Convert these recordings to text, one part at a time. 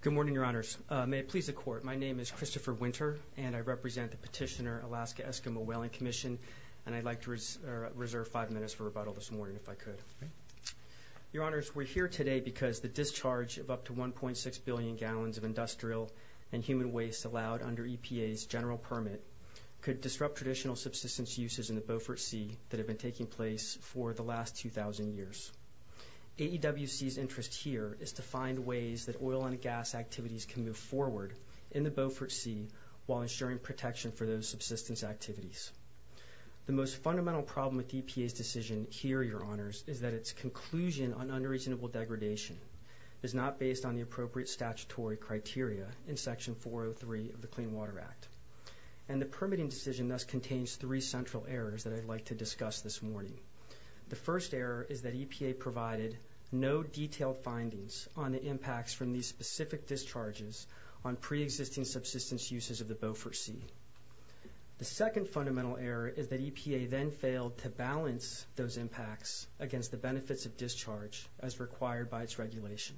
Good morning, Your Honors. May it please the Court, my name is Christopher Winter and I represent the petitioner Alaska Eskimo Whaling Commission and I'd like to reserve five minutes for rebuttal this morning if I could. Your Honors, we're here today because the discharge of up to 1.6 billion gallons of industrial and human waste allowed under EPA's general permit could disrupt traditional subsistence uses in the Beaufort Sea that have been taking place for the last 2,000 years. AEWC's interest here is to find ways that oil and gas activities can move forward in the Beaufort Sea while ensuring protection for those subsistence activities. The most fundamental problem with EPA's decision here, Your Honors, is that its conclusion on unreasonable degradation is not based on the appropriate statutory criteria in Section 403 of the Clean Water Act and the permitting decision thus contains three central errors that I'd like to discuss this morning. The first error is that EPA provided no detailed findings on the impacts from these specific discharges on pre-existing subsistence uses of the Beaufort Sea. The second fundamental error is that EPA then failed to balance those impacts against the benefits of discharge as required by its regulation.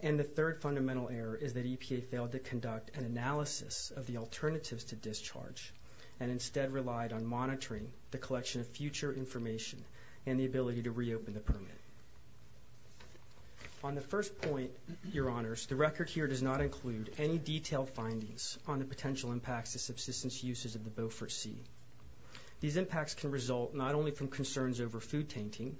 And the third fundamental error is that EPA failed to conduct an analysis of the alternatives to discharge and instead relied on monitoring the collection of future information and the ability to reopen the permit. On the first point, Your Honors, the record here does not include any detailed findings on the potential impacts of subsistence uses of the Beaufort Sea. These impacts can result not only from concerns over food tainting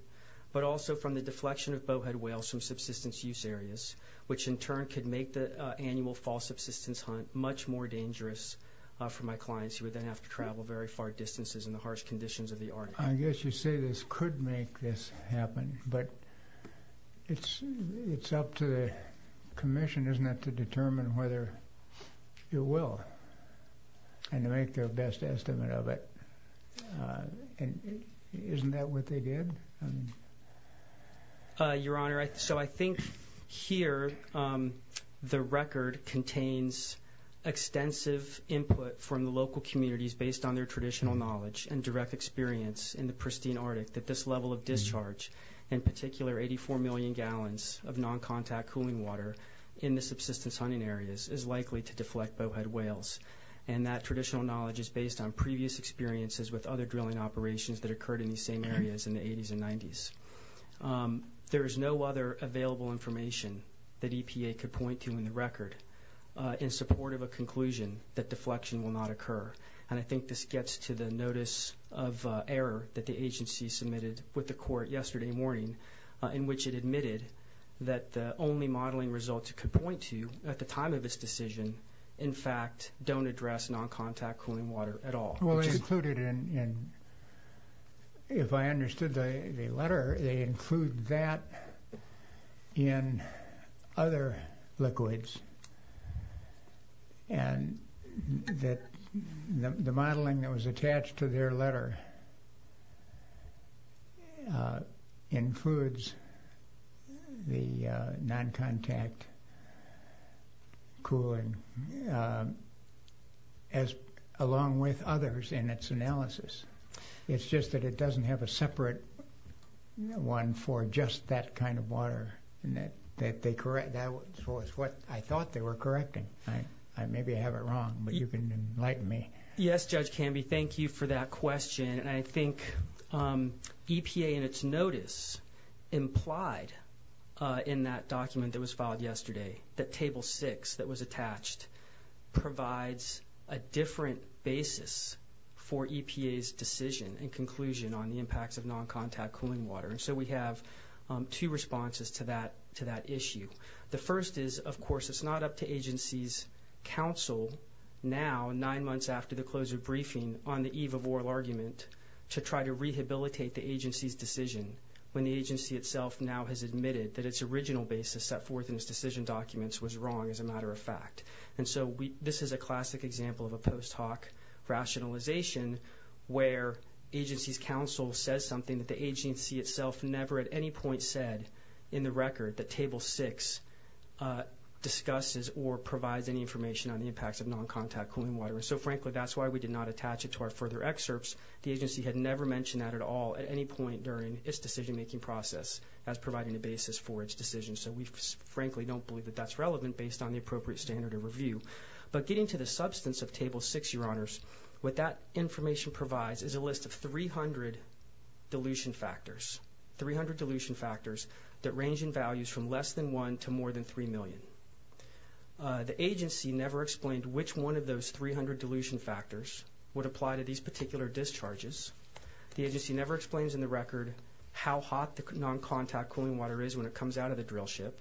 but also from the deflection of bowhead whales from subsistence use areas which in turn could make the annual fall subsistence hunt much more dangerous for my clients who would then have to travel very far distances in the harsh conditions of the Arctic. I guess you say this could make this happen but it's up to the Commission, isn't it, to determine whether it will and to make their best estimate of it. Isn't that what they did? Your Honor, so I think here the record contains extensive input from the local communities based on their traditional knowledge and direct experience in the pristine Arctic that this level of discharge, in particular 84 million gallons of non-contact cooling water in the subsistence hunting areas, is likely to deflect bowhead whales. And that traditional knowledge is based on previous experiences with other drilling operations that occurred in these same areas in the 80s and 90s. There is no other available information that EPA could point to in the record in support of a conclusion that deflection will not occur. And I think this gets to the notice of error that the agency submitted with the court yesterday morning in which it admitted that the only modeling results it could point to at the time of this decision, in fact, don't address non-contact cooling water at all. Well, they included in, if I understood the letter, they include that in other liquids and that the modeling that was attached to their letter includes the non-contact cooling, as along with others in its analysis. It's just that it doesn't have a separate one for just that kind of water that they correct. That was what I thought they were correcting. I maybe have it wrong, but you can enlighten me. Yes, Judge Canby, thank you for that question. And I think EPA in its notice implied in that document that was filed yesterday, that Table 6 that was attached, provides a different basis for EPA's decision and conclusion on the impacts of non-contact cooling water. And so we have two responses to that issue. The first is, of course, it's not up to agency's counsel now, nine months after the close of briefing on the eve of oral argument, to try to rehabilitate the agency's decision when the agency itself now has admitted that its original basis set forth in its decision documents was wrong as a matter of fact. And so this is a classic example of a post hoc rationalization where agency's counsel says something that the agency itself never at any point said in the record that Table 6 discusses or provides any information on the impacts of non-contact cooling water. So frankly, that's why we did not attach it to our further excerpts. The agency had never mentioned that at all at any point during its decision making process as providing a basis for its decision. So we frankly don't believe that that's relevant based on the appropriate standard of review. But getting to the substance of Table 6, Your Honors, what that information provides is a list of 300 dilution factors. 300 dilution factors that range in values from less than one to more than three million. The agency never explained which one of those 300 dilution factors would apply to these particular discharges. The agency never explains in the record how hot the non-contact cooling water is when it comes out of the drill ship.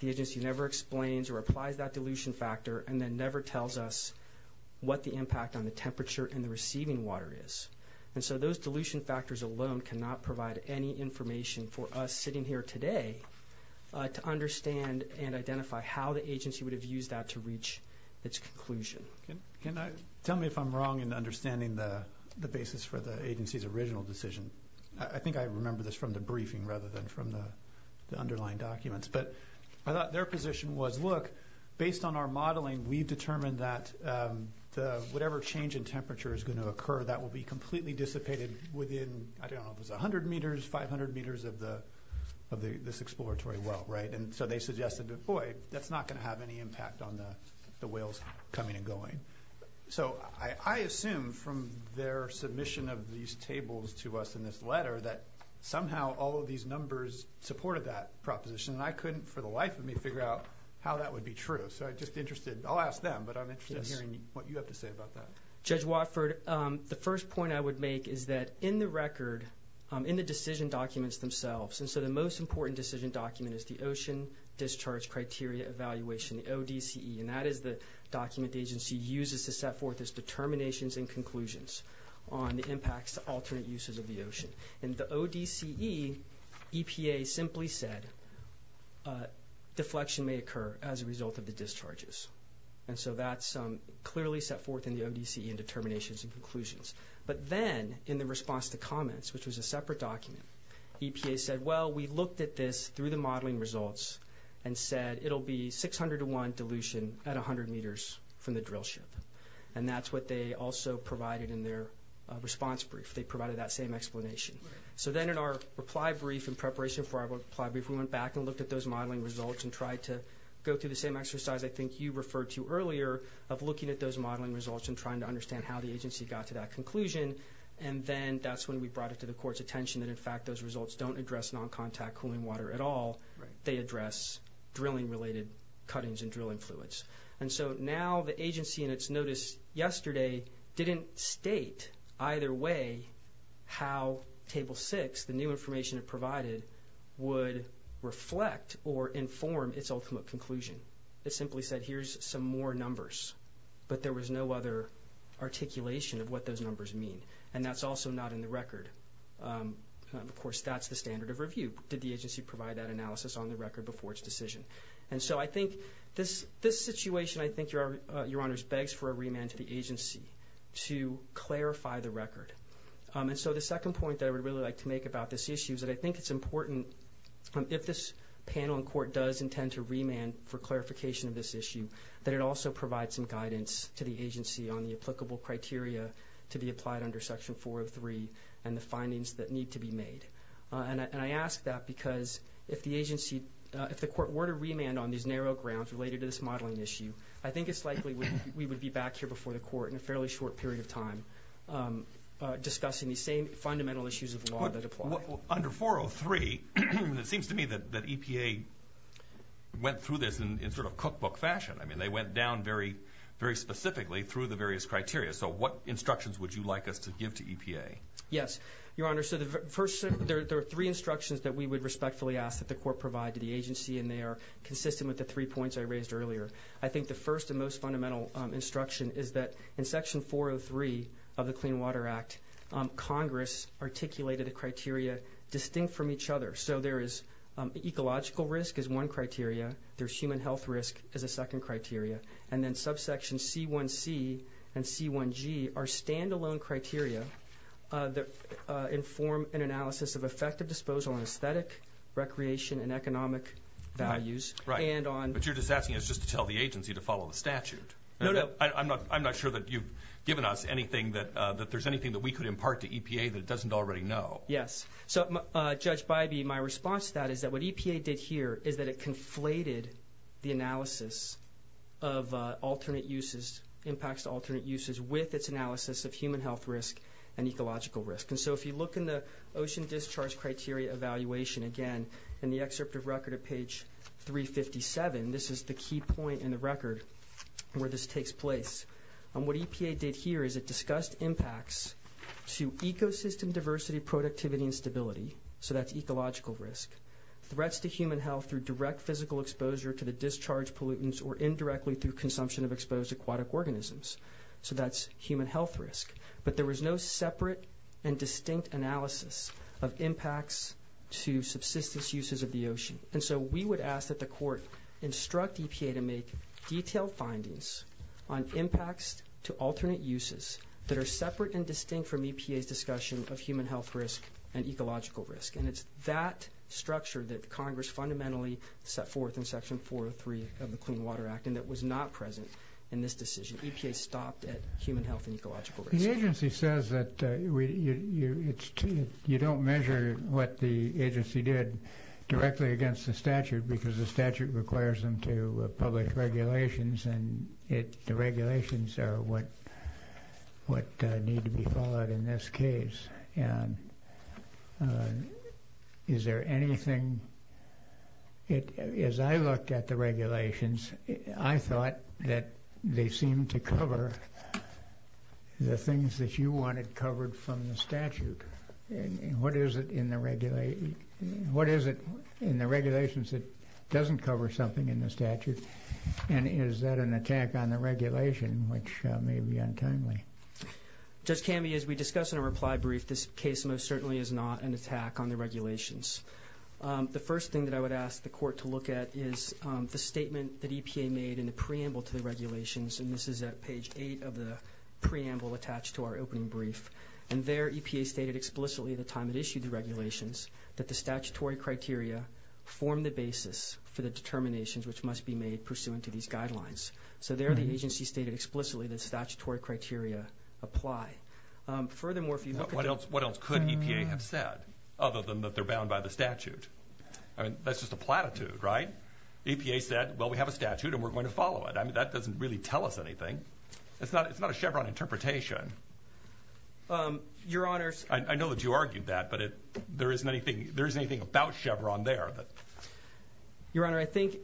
The agency never explains or applies that dilution factor and then never tells us what the impact on the temperature and the receiving water is. And so those dilution factors alone cannot provide any information for us sitting here today to understand and identify how the Can I... Tell me if I'm wrong in understanding the basis for the agency's original decision. I think I remember this from the briefing rather than from the underlying documents. But I thought their position was, look, based on our modeling, we've determined that whatever change in temperature is going to occur, that will be completely dissipated within, I don't know, if it's 100 meters, 500 meters of this exploratory well, right? And so they suggested, boy, that's not going to have any impact on the whales coming and going. So I assume from their submission of these tables to us in this letter that somehow all of these numbers supported that proposition. And I couldn't for the life of me figure out how that would be true. So I'm just interested, I'll ask them, but I'm interested in hearing what you have to say about that. Judge Watford, the first point I would make is that in the record, in the decision documents themselves, and so the most important decision document is the Ocean Discharge Criteria Evaluation, the ODCE, and that is the document the agency uses to set forth its determinations and conclusions on the impacts to alternate uses of the ocean. In the ODCE, EPA simply said deflection may occur as a result of the discharges. And so that's clearly set forth in the ODCE in determinations and conclusions. But then, in the response to comments, which was a separate document, EPA said, well, we looked at this through the modeling results and said it'll be 600 to 1 dilution at 100 meters from the drill ship. And that's what they also provided in their response brief. They provided that same explanation. So then in our reply brief, in preparation for our reply brief, we went back and looked at those modeling results and tried to go through the same exercise I think you referred to earlier of looking at those modeling results and trying to understand how the agency got to that conclusion. And then that's when we brought it to the Court's attention that, in fact, those results don't address non-contact cooling water at all. They address drilling-related cuttings and drilling fluids. And so now the agency in its notice yesterday didn't state either way how Table 6, the new information it provided, would reflect or inform its ultimate conclusion. It simply said, here's some more numbers. But there was no other articulation of what those numbers mean. And that's also not in the record. Of course, that's the standard of review. Did the agency provide that analysis on the record before its decision? And so I think this situation, I think, Your Honors, begs for a remand to the agency to clarify the record. And so the second point that I would really like to make about this issue is that I think it's important, if this panel in court does intend to remand for clarification of this issue, that it also provide some guidance to the agency on the applicable criteria to be applied under Section 403 and the findings that need to be made. And I ask that because if the agency, if the Court were to remand on these narrow grounds related to this modeling issue, I think it's likely we would be back here before the Court in a fairly short period of time discussing these same fundamental issues of law that apply. Under 403, it seems to me that EPA went through this in sort of cookbook fashion. I mean, they went down very, very specifically through the various criteria. So what instructions would you like us to give to EPA? Yes, Your Honor. So the first, there are three instructions that we would respectfully ask that the Court provide to the agency and they are consistent with the three points I raised earlier. I think the first and most fundamental instruction is that in Section 403 of the Clean Water Act, Congress articulated a criteria distinct from each other. So there is ecological risk as one criteria, there's human health risk as a second criteria, and then subsection C1c and C1g are standalone criteria that inform an analysis of effective disposal on aesthetic, recreation, and economic values. Right. But you're just asking us just to tell the agency to follow the statute. No, no. I'm not sure that you've given us anything that, that there's anything that we could impart to EPA that it doesn't already know. Yes. So, Judge Bybee, my response to that is that what EPA did here is that it conflated the analysis of alternate uses, impacts to alternate uses, with its analysis of human health risk and ecological risk. And so if you look in the Ocean Discharge Criteria Evaluation, again, in the excerpt of record at page 357, this is the key point in the record where this takes place. And what EPA did here is it discussed impacts to ecosystem diversity, productivity, and stability. So that's ecological risk. Threats to human health through direct physical exposure to the discharge pollutants or indirectly through consumption of exposed aquatic organisms. So that's human health risk. But there was no separate and distinct analysis of impacts to subsistence uses of the ocean. And so we would ask that the court instruct EPA to make detailed findings on impacts to alternate uses that are separate and distinct from EPA's discussion of human health risk and ecological risk. And it's that structure that Congress fundamentally set forth in Section 403 of the Clean Water Act and that was not present in this decision. EPA stopped at human health and ecological risk. The agency says that you don't measure what the agency did directly against the statute because the statute requires them to public regulations and the regulations are what need to be followed in this case. And is there anything... as I looked at the regulations, I thought that they seem to cover the things that you wanted covered from the statute. And what is it in the regulations that doesn't cover something in the statute? And is that an attack on the regulation, which may be untimely? Judge Cammey, as we discussed in a reply brief, this case most certainly is not an attack on the regulations. The first thing that I would ask the court to look at is the statement that EPA made in the preamble to the regulations. And this is at page 8 of the preamble attached to our opening brief. And there EPA stated explicitly at the time it issued the regulations that the statutory criteria form the basis for the determinations which must be made pursuant to these guidelines. So there the agency stated explicitly that statutory criteria apply. Furthermore, if you look at... What else could EPA have said, other than that they're bound by the statute? I mean, that's just a platitude, right? EPA said, well, we have a statute and we're going to follow it. I mean, that doesn't really tell us anything. It's not a Chevron interpretation. Your Honor... I know that you argued that, but there isn't anything... there's anything about Chevron there that... Your Honor, I think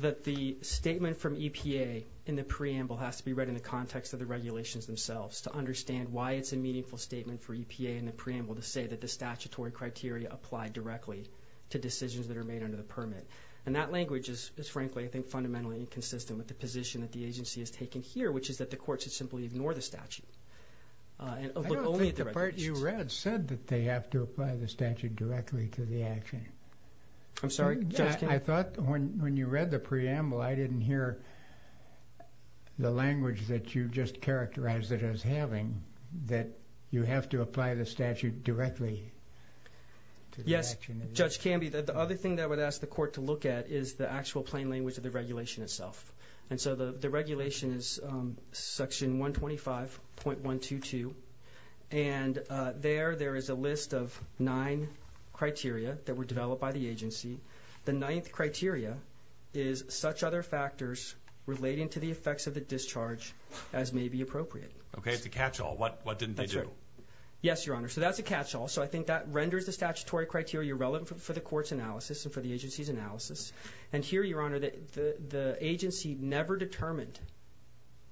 that the statement from EPA in the preamble has to be read in the context of the regulations themselves to understand why it's a meaningful statement for EPA in the preamble to say that the statutory criteria apply directly to decisions that are made under the permit. And that language is, frankly, I think, fundamentally inconsistent with the position that the agency has taken here, which is that the court should simply ignore the statute. I don't think the part you read said that they have to apply the statute directly to the action. I'm sorry, Judge Canby? I thought when you read the preamble, I didn't hear the language that you just characterized it as having, that you have to apply the statute directly to the action. Yes, Judge Canby, the other thing that I would ask the court to look at is the actual plain language of the regulation itself. And so the regulation is Section 125.122, and there, there is a list of nine criteria that were developed by the agency. The ninth criteria is such other factors relating to the effects of the discharge as may be appropriate. Okay, it's a catch-all. What didn't they do? Yes, Your Honor, so that's a catch-all. So I think that renders the statutory criteria relevant for the court's analysis and for the agency's analysis. And here, Your Honor, the agency never determined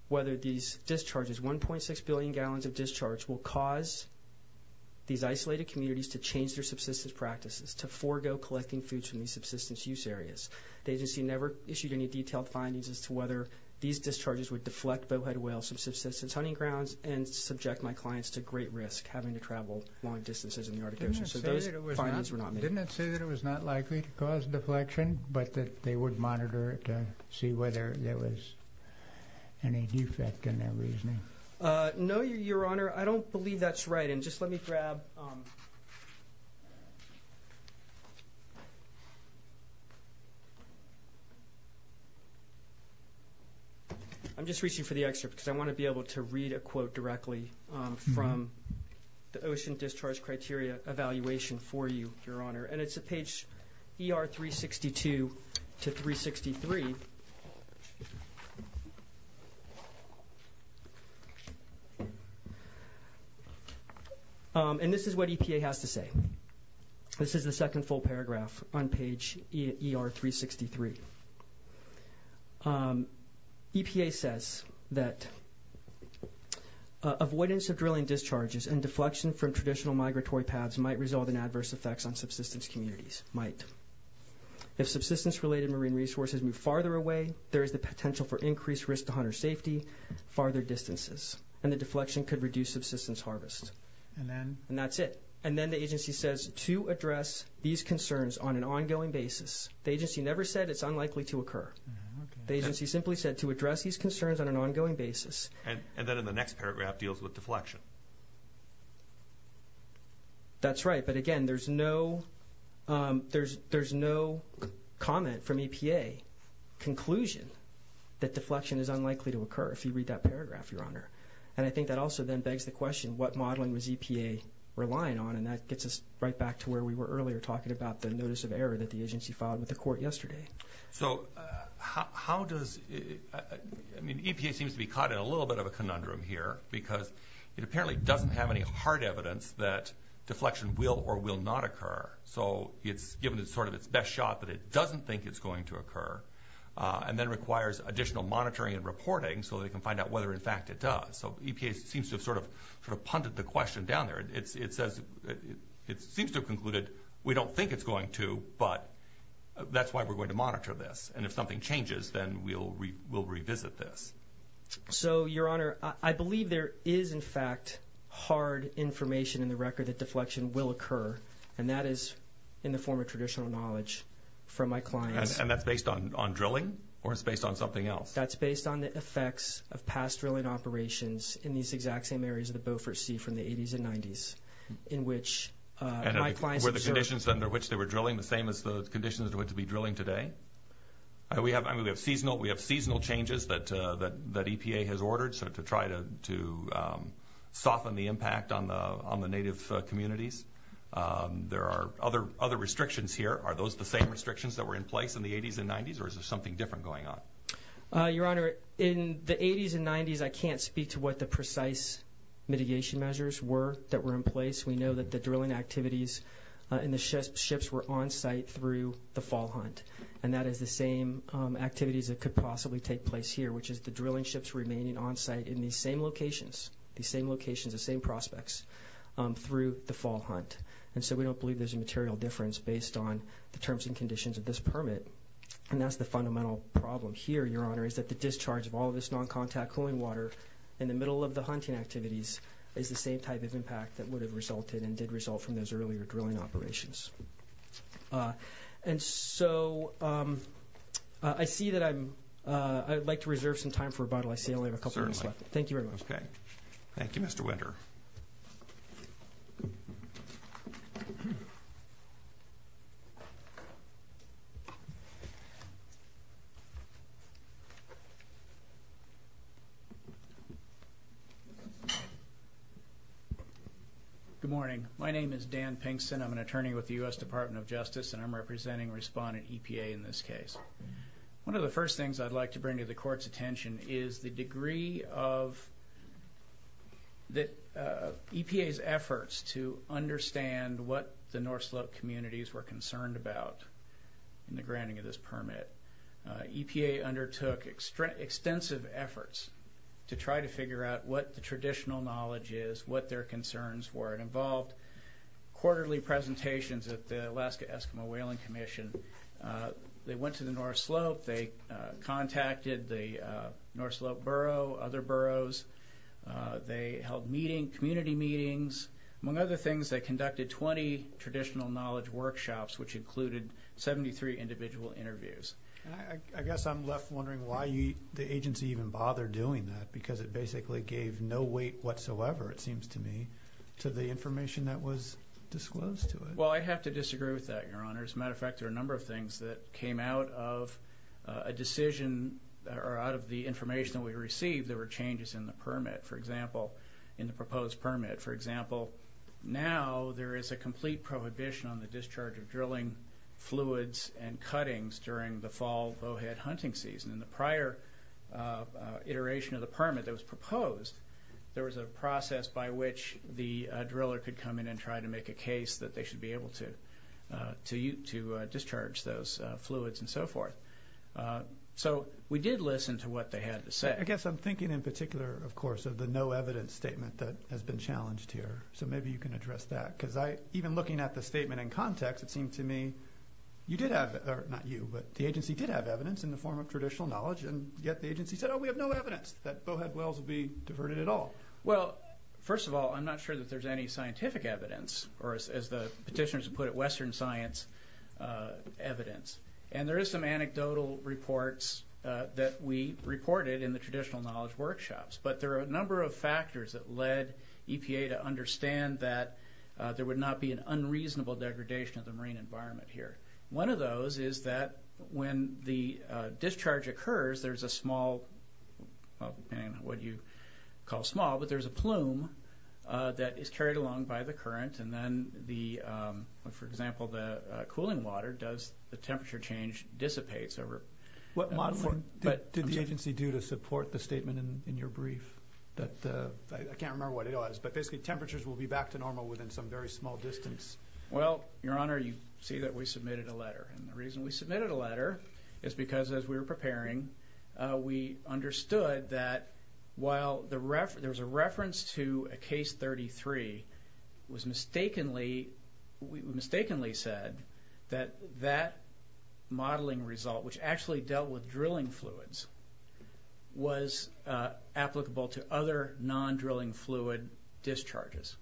whether these discharges, 1.6 billion gallons of discharge, will cause these isolated communities to change their subsistence practices, to forgo collecting foods from these subsistence use areas. The agency never issued any detailed findings as to whether these discharges would deflect bowhead whale subsistence hunting grounds and subject my clients to great risk, having to travel long distances in the Arctic Ocean. So those findings were not made. Didn't it say that it was not likely to cause deflection, but that they would monitor it to see whether there was any defect in their reasoning? No, Your Honor, I don't believe that's right. And just let me grab, I'm just reaching for the excerpt because I want to be able to read a quote directly from the Ocean Discharge Criteria Evaluation for you, Your Honor. And it's at page ER 362 to 363. And this is what EPA has to say. This is the second full paragraph on page ER 363. EPA says that avoidance of drilling discharges and deflection from traditional migratory paths might result in adverse effects on subsistence communities. Might. If subsistence-related marine resources move farther away, there is the potential for increased risk to hunter safety, farther distances. And the deflection could reduce subsistence harvest. And then? And that's it. And then the agency says to address these concerns on an ongoing basis. The agency never said it's unlikely to occur. The agency simply said to address these concerns on an ongoing basis. And then in the next paragraph deals with deflection. That's right. But again, there's no, there's, there's no comment from EPA conclusion that deflection is unlikely to occur if you read that paragraph, Your Honor. And I think that also then begs the question, what modeling was EPA relying on? And that gets us right back to where we were earlier talking about the notice of error that the agency filed with the court yesterday. So how does, I mean, EPA seems to be caught in a little bit of a conundrum here because it apparently doesn't have any hard evidence that deflection will or will not occur. So it's given it sort of its best shot, but it doesn't think it's going to occur and then requires additional monitoring and reporting so they can find out whether in fact it does. So EPA seems to have sort of, sort of punted the question down there. It's, it says it seems to have concluded, we don't think it's going to, but that's why we're going to monitor this. And if something changes, then we'll re, we'll revisit this. So, Your Honor, I believe there is in fact hard information in the record that deflection will occur. And that is in the form of traditional knowledge from my clients. And that's based on, on drilling or it's based on something else? That's based on the effects of past drilling operations in these exact same areas of the Beaufort Sea from the 80s and 90s in which my clients observed. And were the conditions under which they were drilling the same as the conditions to which they'd be drilling today? We have, I mean, we have seasonal, we have to soften the impact on the, on the native communities. There are other, other restrictions here. Are those the same restrictions that were in place in the 80s and 90s? Or is there something different going on? Your Honor, in the 80s and 90s, I can't speak to what the precise mitigation measures were that were in place. We know that the drilling activities in the ships, ships were on site through the fall hunt. And that is the same activities that could possibly take place here, which is the drilling ships remaining on site in these same locations, the same locations, the same prospects through the fall hunt. And so we don't believe there's a material difference based on the terms and conditions of this permit. And that's the fundamental problem here, Your Honor, is that the discharge of all of this non-contact cooling water in the middle of the hunting activities is the same type of impact that would have resulted and did result from those earlier drilling operations. And so I see that I'm, I would like to reserve some time for rebuttal. I see I only have a couple minutes left. Thank you very much. Okay. Thank you, Mr. Winter. Good morning. My name is Dan Pinkson. I'm an attorney with the U.S. Department of Justice, and I'm representing respondent EPA in this case. One of the first things I'd like to bring to the Court's attention is the degree of the EPA's efforts to understand what the North Slope communities were concerned about in the granting of this permit. EPA undertook extensive efforts to try to figure out what the traditional knowledge is, what their concerns were. It involved quarterly presentations at the Alaska Eskimo Whaling Commission. They went to the North Slope. They contacted the North Slope Borough, other boroughs. They held meeting, community meetings. Among other things, they conducted 20 traditional knowledge workshops, which included 73 individual interviews. I guess I'm left wondering why the agency even bothered doing that, because it basically gave no weight whatsoever, it seems to me, to the information that was disclosed to it. Well, I have to disagree with that, Your Honor. As a matter of fact, there were a number of things that came out of a decision or out of the information that we received. There were changes in the permit, for example, in the proposed permit. For example, now there is a complete prohibition on the discharge of drilling fluids and cuttings during the fall bowhead hunting season. In the prior iteration of the permit that was proposed, there was a process by which the driller could come in and try to make a case that they should be able to discharge those fluids and so forth. So we did listen to what they had to say. I guess I'm thinking in particular, of course, of the no evidence statement that has been challenged here. So maybe you can address that, because even looking at the statement in context, it seemed to me you did have, or not you, but the agency did have evidence in the form of traditional knowledge, and yet the agency said, oh, we have no evidence that bowhead wells will be diverted at all. Well, first of all, I'm not sure that there's any scientific evidence, or as the petitioners have put it, Western science evidence. And there is some anecdotal reports that we reported in the traditional knowledge workshops, but there are a number of factors that led EPA to understand that there would not be an unreasonable degradation of the marine environment here. One of those is that when the discharge occurs, there's a small, well, depending on what you call small, but there's a plume that is carried along by the current, and then the, for example, the cooling water does, the temperature change dissipates over... What modeling did the agency do to support the statement in your brief? I can't remember what it was, but basically temperatures will be back to normal within some very small distance. Well, your honor, you see that we submitted a letter, and the reason we submitted a letter is because as we were preparing, we understood that while there was a reference to a case 33, it was mistakenly, we mistakenly said that that modeling result, which actually dealt with drilling fluids, was applicable to other non-drilling fluid discharges.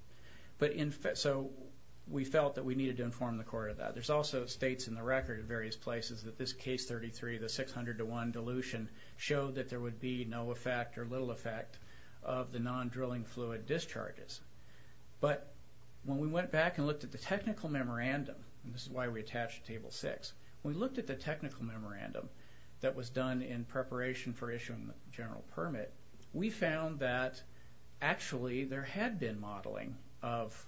So we felt that we needed to inform the court of that. There's also states in the record at various places that this case 33, the 600 to 1 dilution, showed that there would be no effect or little effect of the non-drilling fluid discharges. But when we went back and looked at the technical memorandum, and this is why we attached table 6, we looked at the technical memorandum that was done in preparation for issuing the general permit, we found that actually there had been modeling of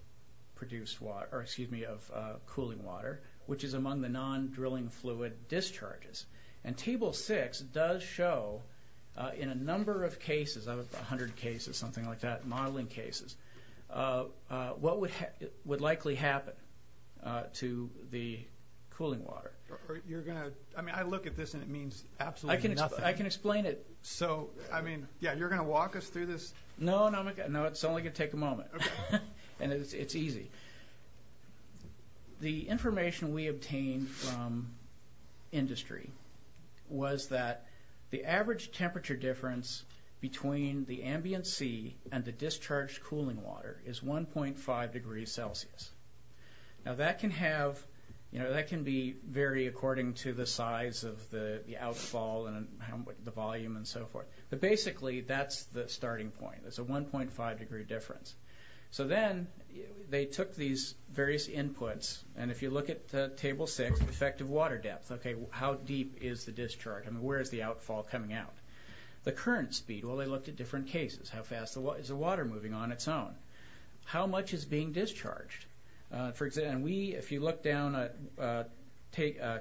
produced water, or excuse me, of cooling water, which is among the non-drilling fluid discharges. And table 6 does show, in a number of cases, out of 100 cases, something like that, modeling cases, what would likely happen to the cooling water. You're going to, I mean, I look at this and it means absolutely nothing. I can explain it. So, I mean, yeah, you're going to walk us through this? No, no, it's only going to take a moment, and it's easy. The information we obtained from industry was that the average temperature difference between the ambient sea and the discharged cooling water is 1.5 degrees Celsius. Now, that can have, you know, that can vary according to the size of the outfall and the volume and so forth. But basically, that's the starting point. It's a 1.5 degree difference. So then, they took these various inputs, and if you look at table 6, effective water depth. Okay, how deep is the discharge? I mean, where is the outfall coming out? The current speed. Well, they looked at different cases. How fast is the water moving on its own? How much is being discharged? For example, if you look down at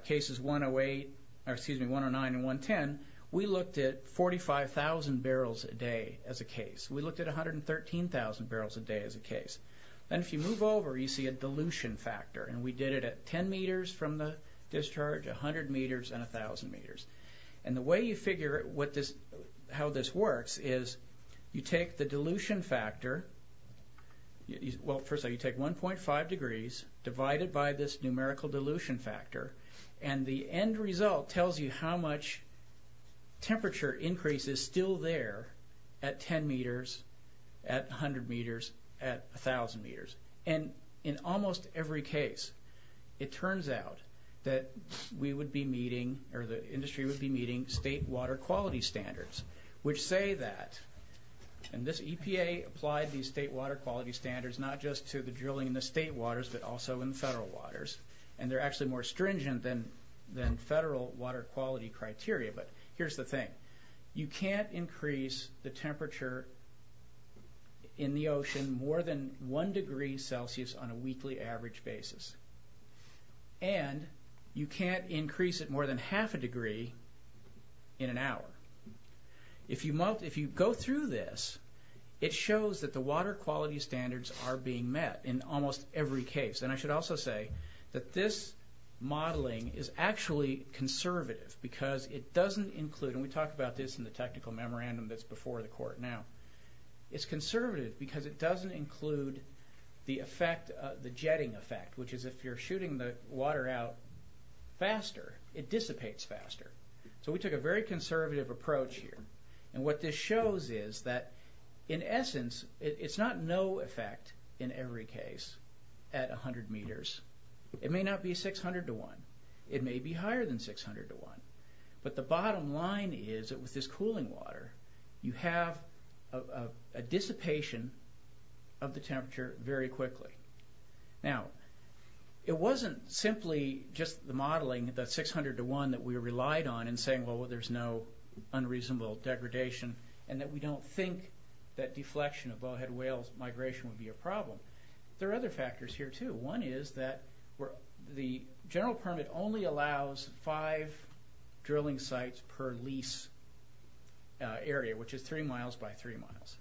cases 108, or excuse me, 109 and 110, we looked at 45,000 barrels a day as a case. We looked at 113,000 barrels a day as a case. And if you move over, you see a dilution factor, and we did it at 10 meters from the discharge, 100 meters, and 1,000 meters. And the way you figure how this works is you take the dilution factor. Well, first of all, you take 1.5 degrees divided by this numerical dilution factor, and the end result tells you how much temperature increase is still there at 10 meters, at 100 meters, at 1,000 meters. And in almost every case, it turns out that we would be meeting, or the industry would be meeting, state water quality standards, which say that, and this EPA applied these state water quality standards not just to the drilling in the state waters, but also in federal waters, and they're actually more stringent than federal water quality criteria, but here's the thing. You can't increase the temperature in the ocean more than one degree Celsius on a weekly average basis, and you can't increase it more than half a degree in an hour. If you go through this, it shows that the water quality standards are being met in almost every case. And I should also say that this modeling is actually conservative because it doesn't include, and we talked about this in the technical memorandum that's before the court now, it's conservative because it doesn't include the effect, the jetting effect, which is if you're shooting the water out faster, it dissipates faster. So we took a very conservative approach here, and what this shows is that, in fact, in every case at a hundred meters, it may not be 600 to 1, it may be higher than 600 to 1, but the bottom line is that with this cooling water, you have a dissipation of the temperature very quickly. Now, it wasn't simply just the modeling, the 600 to 1 that we relied on, and saying, well, there's no unreasonable degradation, and that we don't think that deflection of bowhead whales migration would be a problem. There are other factors here too. One is that the general permit only allows five drilling sites per lease area, which is three miles by three miles.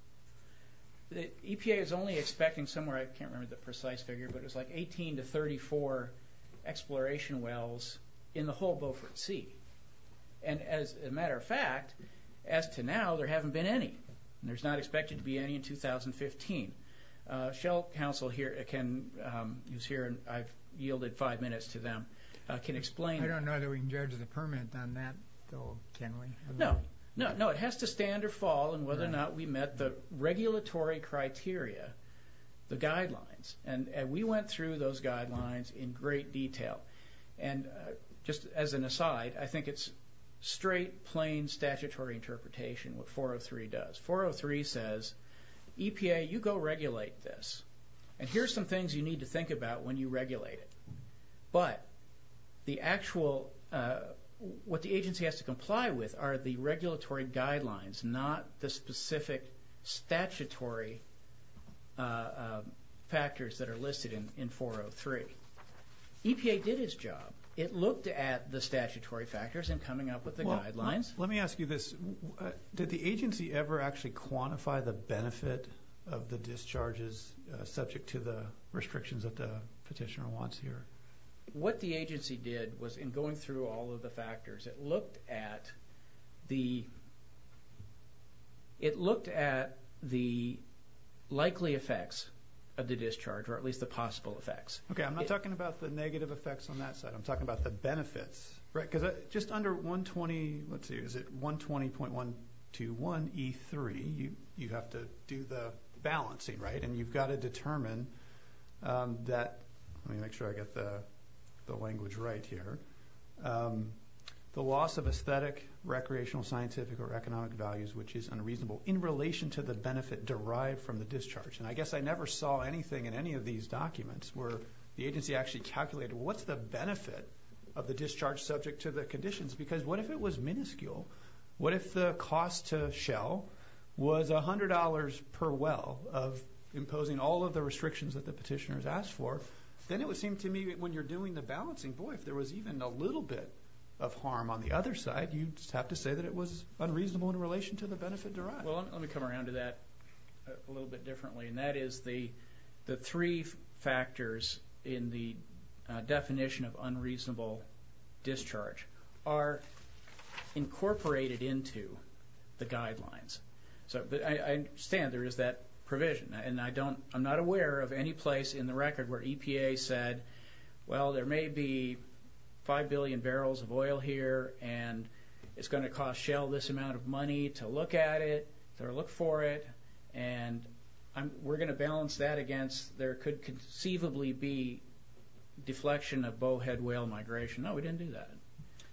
The EPA is only expecting somewhere, I can't remember the precise figure, but it's like 18 to 34 exploration wells in the whole Beaufort Sea. And as a matter of fact, as to now, there haven't been any. There's not expected to be any in 2015. Shell Council can, who's here, and I've yielded five minutes to them, can explain. I don't know that we can judge the permit on that, though, can we? No, no, it has to stand or fall on whether or not we met the regulatory criteria, the guidelines, and we went through those guidelines in great detail. And just as an aside, I think it's straight, plain, statutory interpretation what 403 does. 403 says, EPA, you go regulate this, and here's some things you need to think about when you regulate it. But the actual, what the agency has to comply with are the regulatory guidelines, not the specific statutory factors that are listed in 403. EPA did its job. It looked at the statutory factors in coming up with the guidelines. Let me ask you this. Did the agency ever actually quantify the benefit of the discharges subject to the restrictions that the petitioner wants here? What the agency did was, in going through all of the factors, it looked at the, it looked at the likely effects of the discharge, or at least the possible effects. Okay, I'm not talking about the negative effects on that side. I'm talking about the benefits, right? Because just under 120, let's see, is it 120.121E3, you have to do the balancing, right? And you've got to determine that, let me make sure I get the language right here, the loss of aesthetic, recreational, scientific, or economic values which is unreasonable in relation to the benefit derived from the discharge. And I guess I never saw anything in any of these documents where the agency actually calculated, what's the benefit of the discharge subject to the conditions? Because what if it was minuscule? What if the cost to Shell was $100 per well of imposing all of the restrictions that the petitioners asked for? Then it would seem to me that when you're doing the balancing, boy, if there was even a little bit of harm on the other side, you'd just have to say that it was unreasonable in relation to the benefit derived. Well, let me come around to that a little bit differently. And that is the three factors in the definition of unreasonable discharge are incorporated into the guidelines. So I understand there is that provision and I don't, I'm not aware of any place in the record where EPA said, well, there may be five billion barrels of oil here and it's going to cost Shell this amount of money to look at it, or look for it, and we're going to balance that against, there could conceivably be deflection of bowhead whale migration. No, we didn't do that.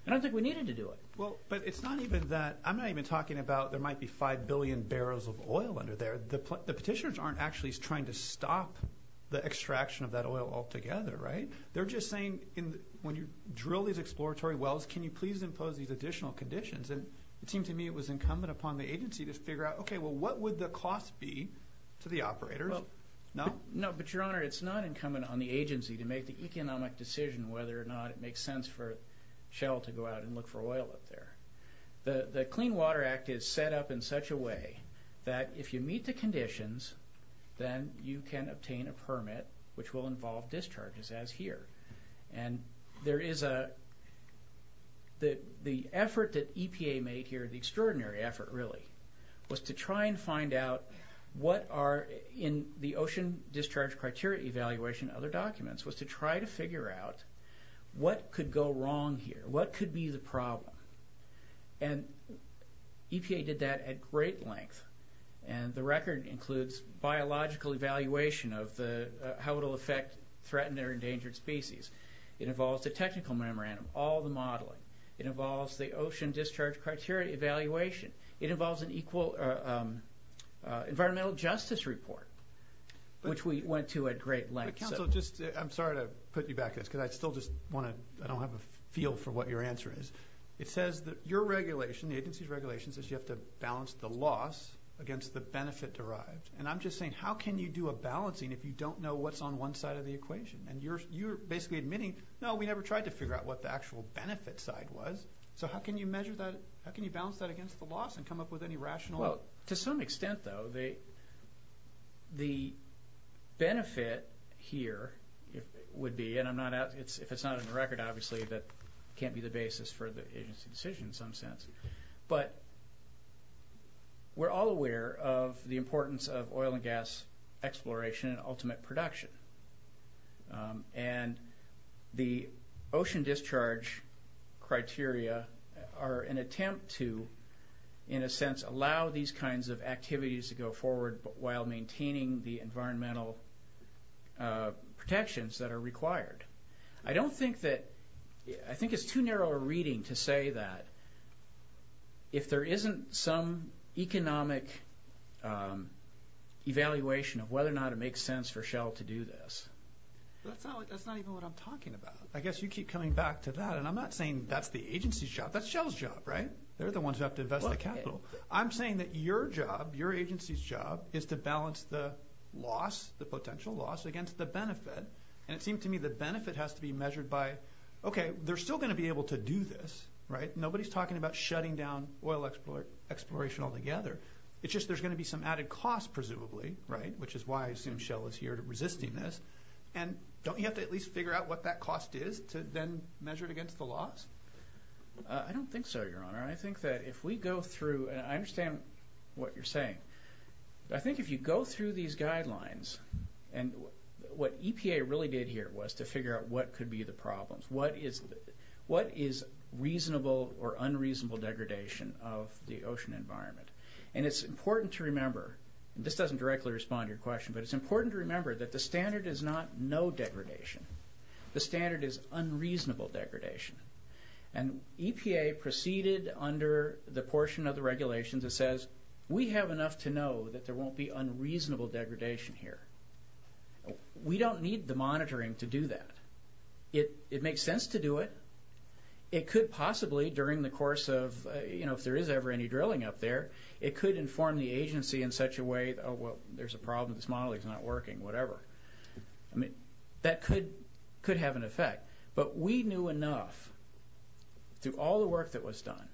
I don't think we needed to do it. Well, but it's not even that, I'm not even talking about there might be five billion barrels of oil under there. The petitioners aren't actually trying to stop the extraction of that oil altogether, right? They're just saying, when you drill these exploratory wells, can you please impose these additional conditions? And it seemed to me it was incumbent upon the agency to figure out, okay, well, what would the cost be to the operators? No? No, but your honor, it's not incumbent on the agency to make the economic decision whether or not it makes sense for Shell to go out and look for oil up there. The Clean Water Act is set up in such a way that if you meet the conditions, then you can obtain a permit which will involve discharges as here. And there is a... The effort that EPA made here, the extraordinary effort really, was to try and find out what are in the ocean discharge criteria evaluation, other documents, was to try to figure out what could go wrong here, what could be the problem. And EPA did that at great length. And the record includes biological evaluation of how it'll affect, threaten their endangered species. It involves the technical memorandum, all the modeling. It involves the ocean discharge criteria evaluation. It involves an equal environmental justice report, which we went to at great length. But counsel, just... I'm sorry to put you back on this, because I still just want to... I don't have a feel for what your answer is. It says that your regulation, the agency's regulation, says you have to balance the loss against the benefit derived. And I'm just saying, how can you do a balancing if you don't know what's on one side of the equation? And you're basically admitting, no, we never tried to figure out what the actual benefit side was. So how can you measure that? How can you balance that against the loss and come up with any rational... Well, to some extent, though, the benefit here would be, and I'm not... If it's not in the record, obviously, that can't be the basis for the agency decision in some sense. But we're all aware of the importance of oil and gas exploration and ultimate production. And the ocean discharge criteria are an attempt to, in a sense, allow these kinds of activities to go forward while maintaining the environmental protections that are required. I don't think that... I think it's too narrow a reading to say that if there isn't some economic evaluation of whether or not it makes sense for Shell to do this. That's not even what I'm talking about. I guess you keep coming back to that. And I'm not saying that's the agency's job. That's Shell's job, right? They're the ones who have to invest the capital. I'm saying that your job, your agency's job, is to balance the loss, the potential loss, against the benefit. And it seems to me the benefit has to be measured by, okay, they're still going to be able to do this, right? Nobody's talking about shutting down oil exploration altogether. It's just there's going to be some added cost, presumably, right? Which is why I assume Shell is here to resisting this. And don't you have to at least figure out what that cost is to then measure it against the loss? I don't think so, Your Honor. I think that if we go through... And I understand what you're saying. I think if you go through these guidelines, and what EPA really did here was to figure out what could be the problems. What is reasonable or unreasonable degradation of the ocean environment? And it's important to remember, and this doesn't directly respond to your question, but it's important to remember that the standard is not no degradation. The standard is unreasonable degradation. And EPA proceeded under the portion of the regulations that says, we have enough to know that there won't be unreasonable degradation here. We don't need the monitoring to do that. It makes sense to do it. It could possibly, during the course of, you know, if there is ever any drilling up there, it could inform the agency in such a way, oh, well, there's a problem. This model is not working, whatever. I mean, that could have an effect. But we knew enough through all the work that was done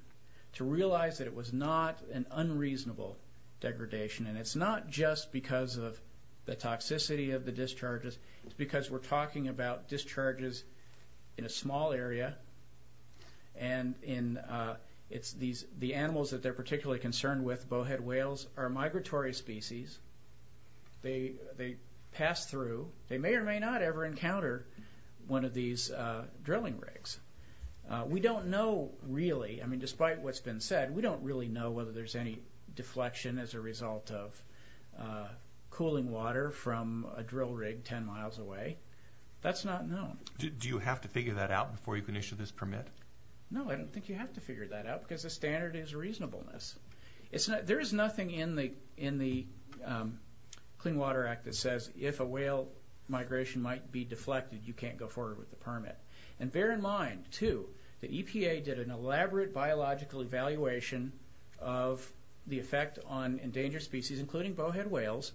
to realize that it was not an unreasonable degradation. And it's not just because of the toxicity of the discharges. It's because we're talking about discharges in a small area. And the animals that they're particularly concerned with, bowhead whales, are a migratory species. They pass through. They may or may not ever encounter one of these drilling rigs. We don't know really, I mean, there's any deflection as a result of cooling water from a drill rig 10 miles away. That's not known. Do you have to figure that out before you can issue this permit? No, I don't think you have to figure that out because the standard is reasonableness. There is nothing in the Clean Water Act that says, if a whale migration might be deflected, you can't go forward with the permit. And bear in mind, too, the EPA did an elaborate biological evaluation of the effect on endangered species, including bowhead whales,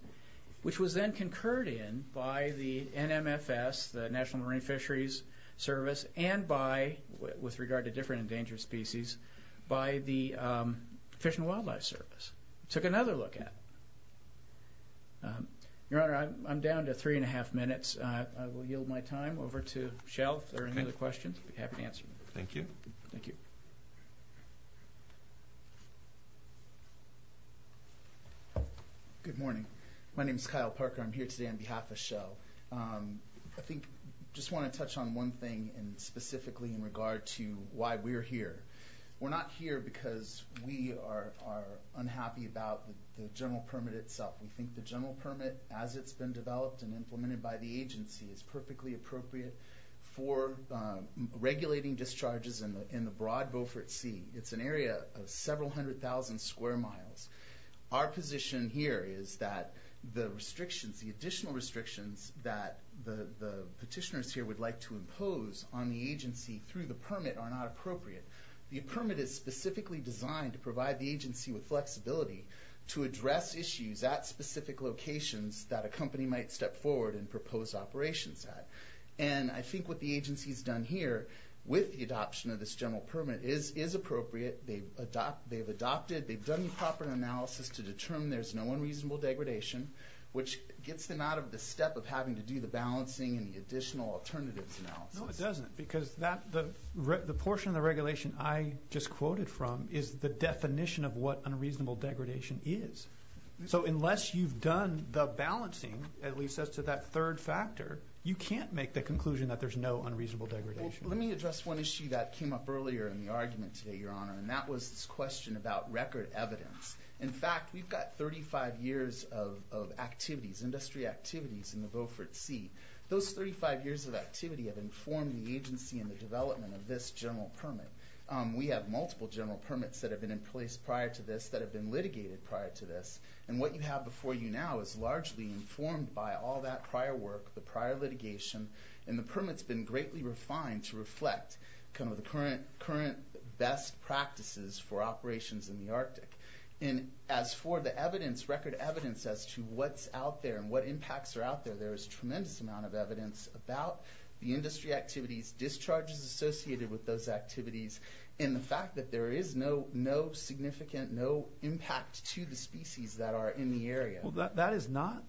which was then concurred in by the NMFS, the National Marine Fisheries Service, and by, with regard to different endangered species, by the Fish and Wildlife Service. Took another look at it. Your Honor, I'm down to three and a half minutes. I will yield my time over to Shel if there are any other questions. I'll be happy to answer them. Thank you. Thank you. Good morning. My name is Kyle Parker. I'm here today on behalf of Shel. I think I just want to touch on one thing, and specifically in regard to why we're here. We're not here because we are unhappy about the general permit itself. We think the general permit, as it's been developed and implemented by the agency, is perfectly appropriate for regulating discharges in the broad Beaufort Sea. It's an area of several hundred thousand square miles. Our position here is that the restrictions, the additional restrictions that the petitioners here would like to impose on the agency through the permit are not appropriate. The permit is specifically designed to provide the agency with flexibility to address issues at specific locations that a company might step forward and propose operations at. And I think what the agency's done here, with the adoption of this general permit, is appropriate. They've adopted, they've done the proper analysis to determine there's no unreasonable degradation, which gets them out of the step of having to do the balancing and the additional alternatives analysis. No, it doesn't, because the portion of the regulation I just quoted from is the definition of what unreasonable degradation is. So unless you've done the balancing, at least as to that third factor, you can't make the conclusion that there's no unreasonable degradation. Let me address one issue that came up earlier in the argument today, Your Honor, and that was this question about record evidence. In fact, we've got 35 years of activities, industry activities in the Beaufort Sea. Those 35 years of activity have informed the agency and the development of this general permit. We have multiple general permits that have been in place prior to this that have been litigated prior to this. And what you have before you now is largely informed by all that prior work, the prior litigation, and the permit's been greatly refined to reflect kind of the current best practices for operations in the Arctic. And as for the evidence, record evidence, as to what's out there and what impacts are out there, there is tremendous amount of evidence about the industry activities, discharges associated with those activities, and the fact that there is no significant, no impact to the species that are in the area. That is not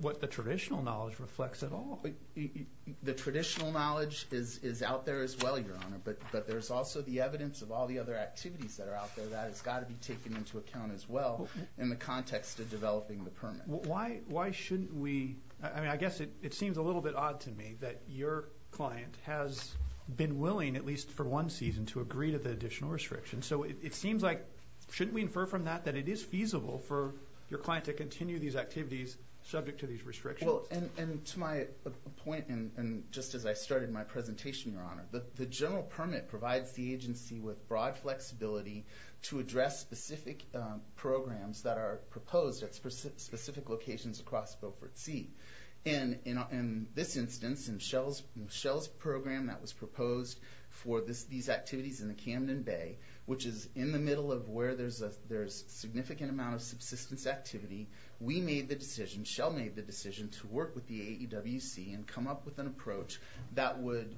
what the traditional knowledge reflects at all. The traditional knowledge is out there as well, Your Honor, but there's also the evidence of all the other activities that are out there that has got to be taken into account as well in the context of developing the permit. Why shouldn't we, I mean, I guess it seems a little bit odd to me that your client has been willing, at least for one season, to agree to the additional restriction. So it seems like, shouldn't we infer from that that it is feasible for your client to continue these activities subject to these restrictions? And to my point, and just as I started my presentation, Your Honor, the general permit provides the agency with broad flexibility to address specific programs that are proposed at specific locations across Beaufort Sea. In this instance, in Shell's program that was proposed for these activities in the Camden Bay, which is in the middle of where there is a significant amount of subsistence activity, we made the decision, Shell made the decision, to work with the AEWC and come up with an approach that would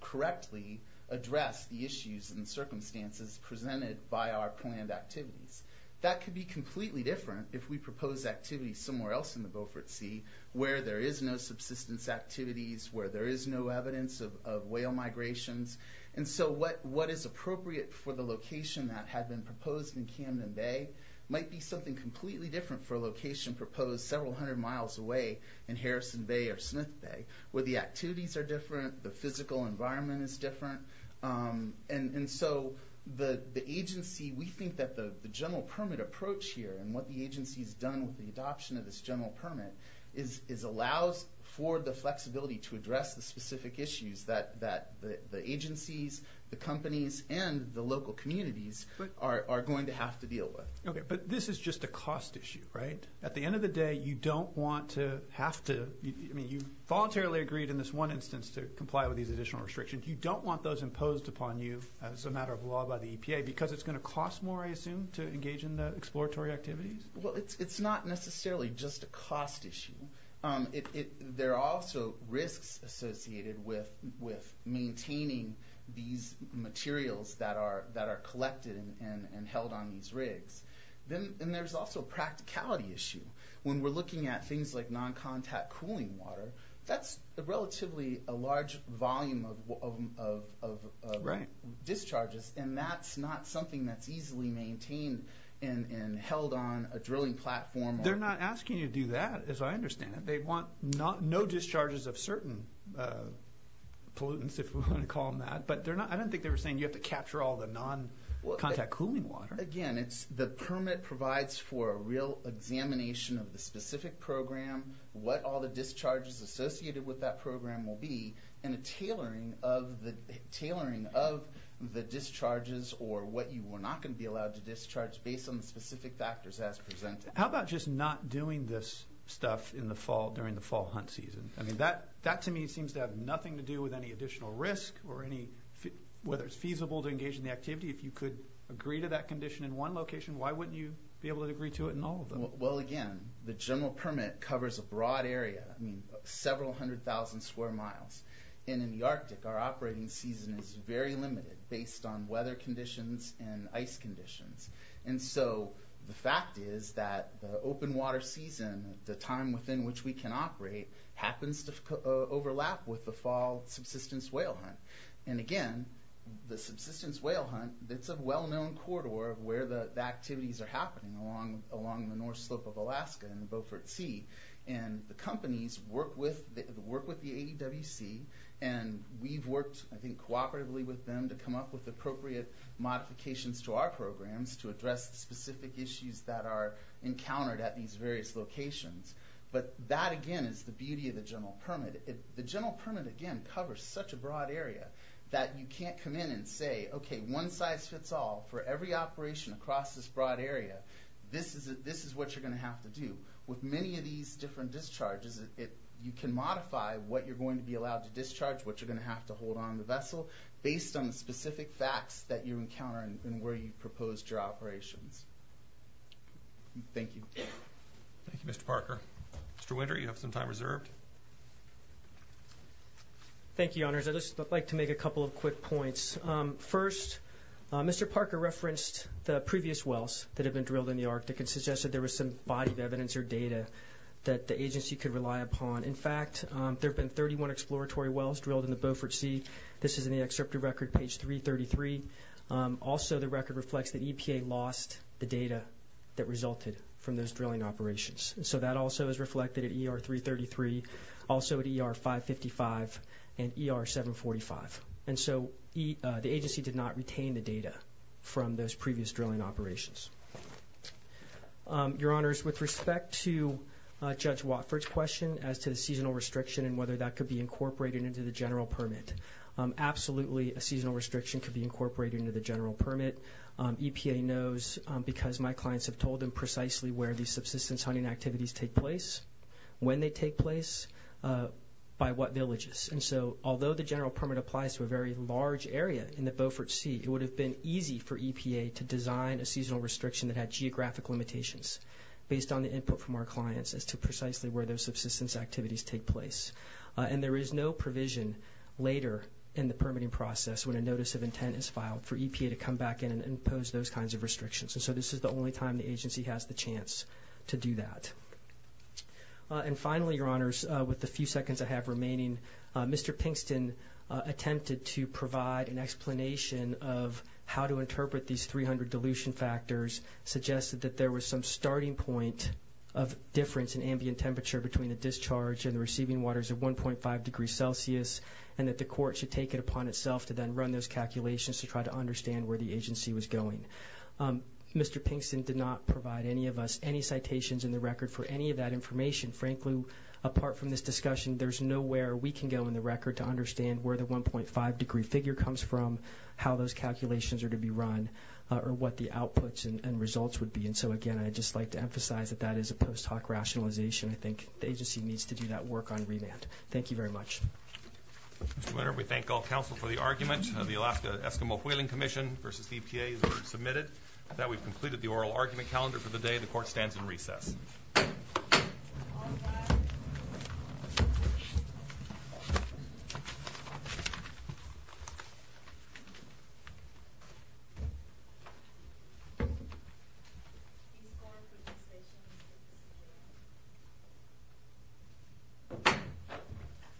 correctly address the issues and circumstances presented by our planned activities. That could be completely different if we propose activities somewhere else in the Beaufort Sea where there is no subsistence activities, where there is no evidence of whale migrations. And so what is appropriate for the location that had been proposed in Camden Bay might be something completely different for a location proposed several hundred miles away in Harrison Bay or Smith Bay, where the activities are different, the physical environment is different. And so the agency, we think that the general permit approach here, and what the agency has done with the adoption of this general permit, is allows for the flexibility to address the specific issues that the agencies, the companies, and the local communities are going to have to deal with. Okay, but this is just a cost issue, right? At the end of the day, you don't want to have to, I mean, you voluntarily agreed in this one instance to comply with these additional restrictions. You don't want those imposed upon you as a matter of law by the EPA because it's going to cost more, I assume, to engage in the exploratory activities? Well, it's not necessarily just a cost issue. There are also risks associated with maintaining these materials that are collected and held on these rigs. And there's also a practicality issue. When we're looking at things like non-contact cooling water, that's relatively a large volume of discharges, and that's not something that's easily maintained and held on a drilling platform. They're not asking you to do that, as I understand it. They want no discharges of certain pollutants, if we want to call them that. But I don't think they were saying you have to capture all the non-contact cooling water. Again, the permit provides for a real examination of the specific program, what all the discharges associated with that program will be, and a tailoring of the discharges or what you were not going to be allowed to discharge based on the specific factors as presented. How about just not doing this stuff during the fall hunt season? That to me seems to have nothing to do with any additional risk or whether it's feasible to engage in the activity. If you could agree to that condition in one location, why wouldn't you be able to agree to it in all of them? Well again, the general permit covers a broad area, several hundred thousand square miles. And in the Arctic, our operating season is very limited based on weather conditions and ice conditions. And so the fact is that the open water season, the time within which we can operate, happens to overlap with the fall subsistence whale hunt. And again, the subsistence whale hunt, it's a well-known corridor of where the activities are happening along the North Slope of Alaska and the Beaufort Sea. And the companies work with the ADWC, and we've worked I think cooperatively with them to come up with appropriate modifications to our programs to address the specific issues that are encountered at these various locations. But that again is the beauty of the general permit. The general permit again covers such a broad area that you can't come in and say, okay, one size fits all for every operation across this broad area. This is what you're going to have to do. With many of these different discharges, you can modify what you're going to be allowed to discharge, what you're going to have to hold on the vessel, based on the specific facts that you encounter and where you proposed your operations. Thank you. Thank you, Mr. Parker. Mr. Winter, you have some time reserved. Thank you, honors. I'd just like to make a couple of quick points. First, Mr. Parker referenced the previous wells that have been drilled in the Arctic and suggested there was some body of evidence or data that the agency could rely upon. In fact, there have been 31 exploratory wells drilled in the Beaufort Sea. This is in the excerpt of record, page 333. Also the record reflects that EPA lost the data that resulted from those drilling operations. So that also is reflected at ER 333, also at ER 555, and ER 745. And so the agency did not retain the data from those previous drilling operations. Your honors, with respect to Judge Watford's question as to the seasonal restriction and whether that could be incorporated into the general permit, absolutely a seasonal restriction could be incorporated into the general permit. EPA knows because my clients have told them precisely where these subsistence hunting activities take place, when they take place, by what villages. And so although the general permit applies to a very large area in the Beaufort Sea, it would have been easy for EPA to design a seasonal restriction that had geographic limitations based on the input from our clients as to precisely where those subsistence activities take place. And there is no provision later in the permitting process when a notice of intent is filed for EPA to come back in and impose those kinds of restrictions. And so this is the only time the agency has the chance to do that. And finally, your honors, with the few seconds I have remaining, Mr. Pinkston attempted to provide an explanation of how to interpret these 300 dilution factors, suggested that there was some starting point of difference in ambient temperature between the discharge and the receiving waters of 1.5 degrees Celsius, and that the court should take it upon itself to then run those calculations to try to understand where the agency was going. Mr. Pinkston did not provide any of us any citations in the record for any of that information. Frankly, apart from this discussion, there's nowhere we can go in the record to understand where the 1.5 degree figure comes from, how those calculations are to be run, or what the outputs and results would be. And so again, I'd just like to emphasize that that is a post hoc rationalization. I think the agency needs to do that work on remand. Thank you very much. Mr. Winner, we thank all counsel for the argument of the Alaska Eskimo Whaling Commission versus EPA that were submitted, that we've completed the oral argument calendar for the day. The court stands in recess.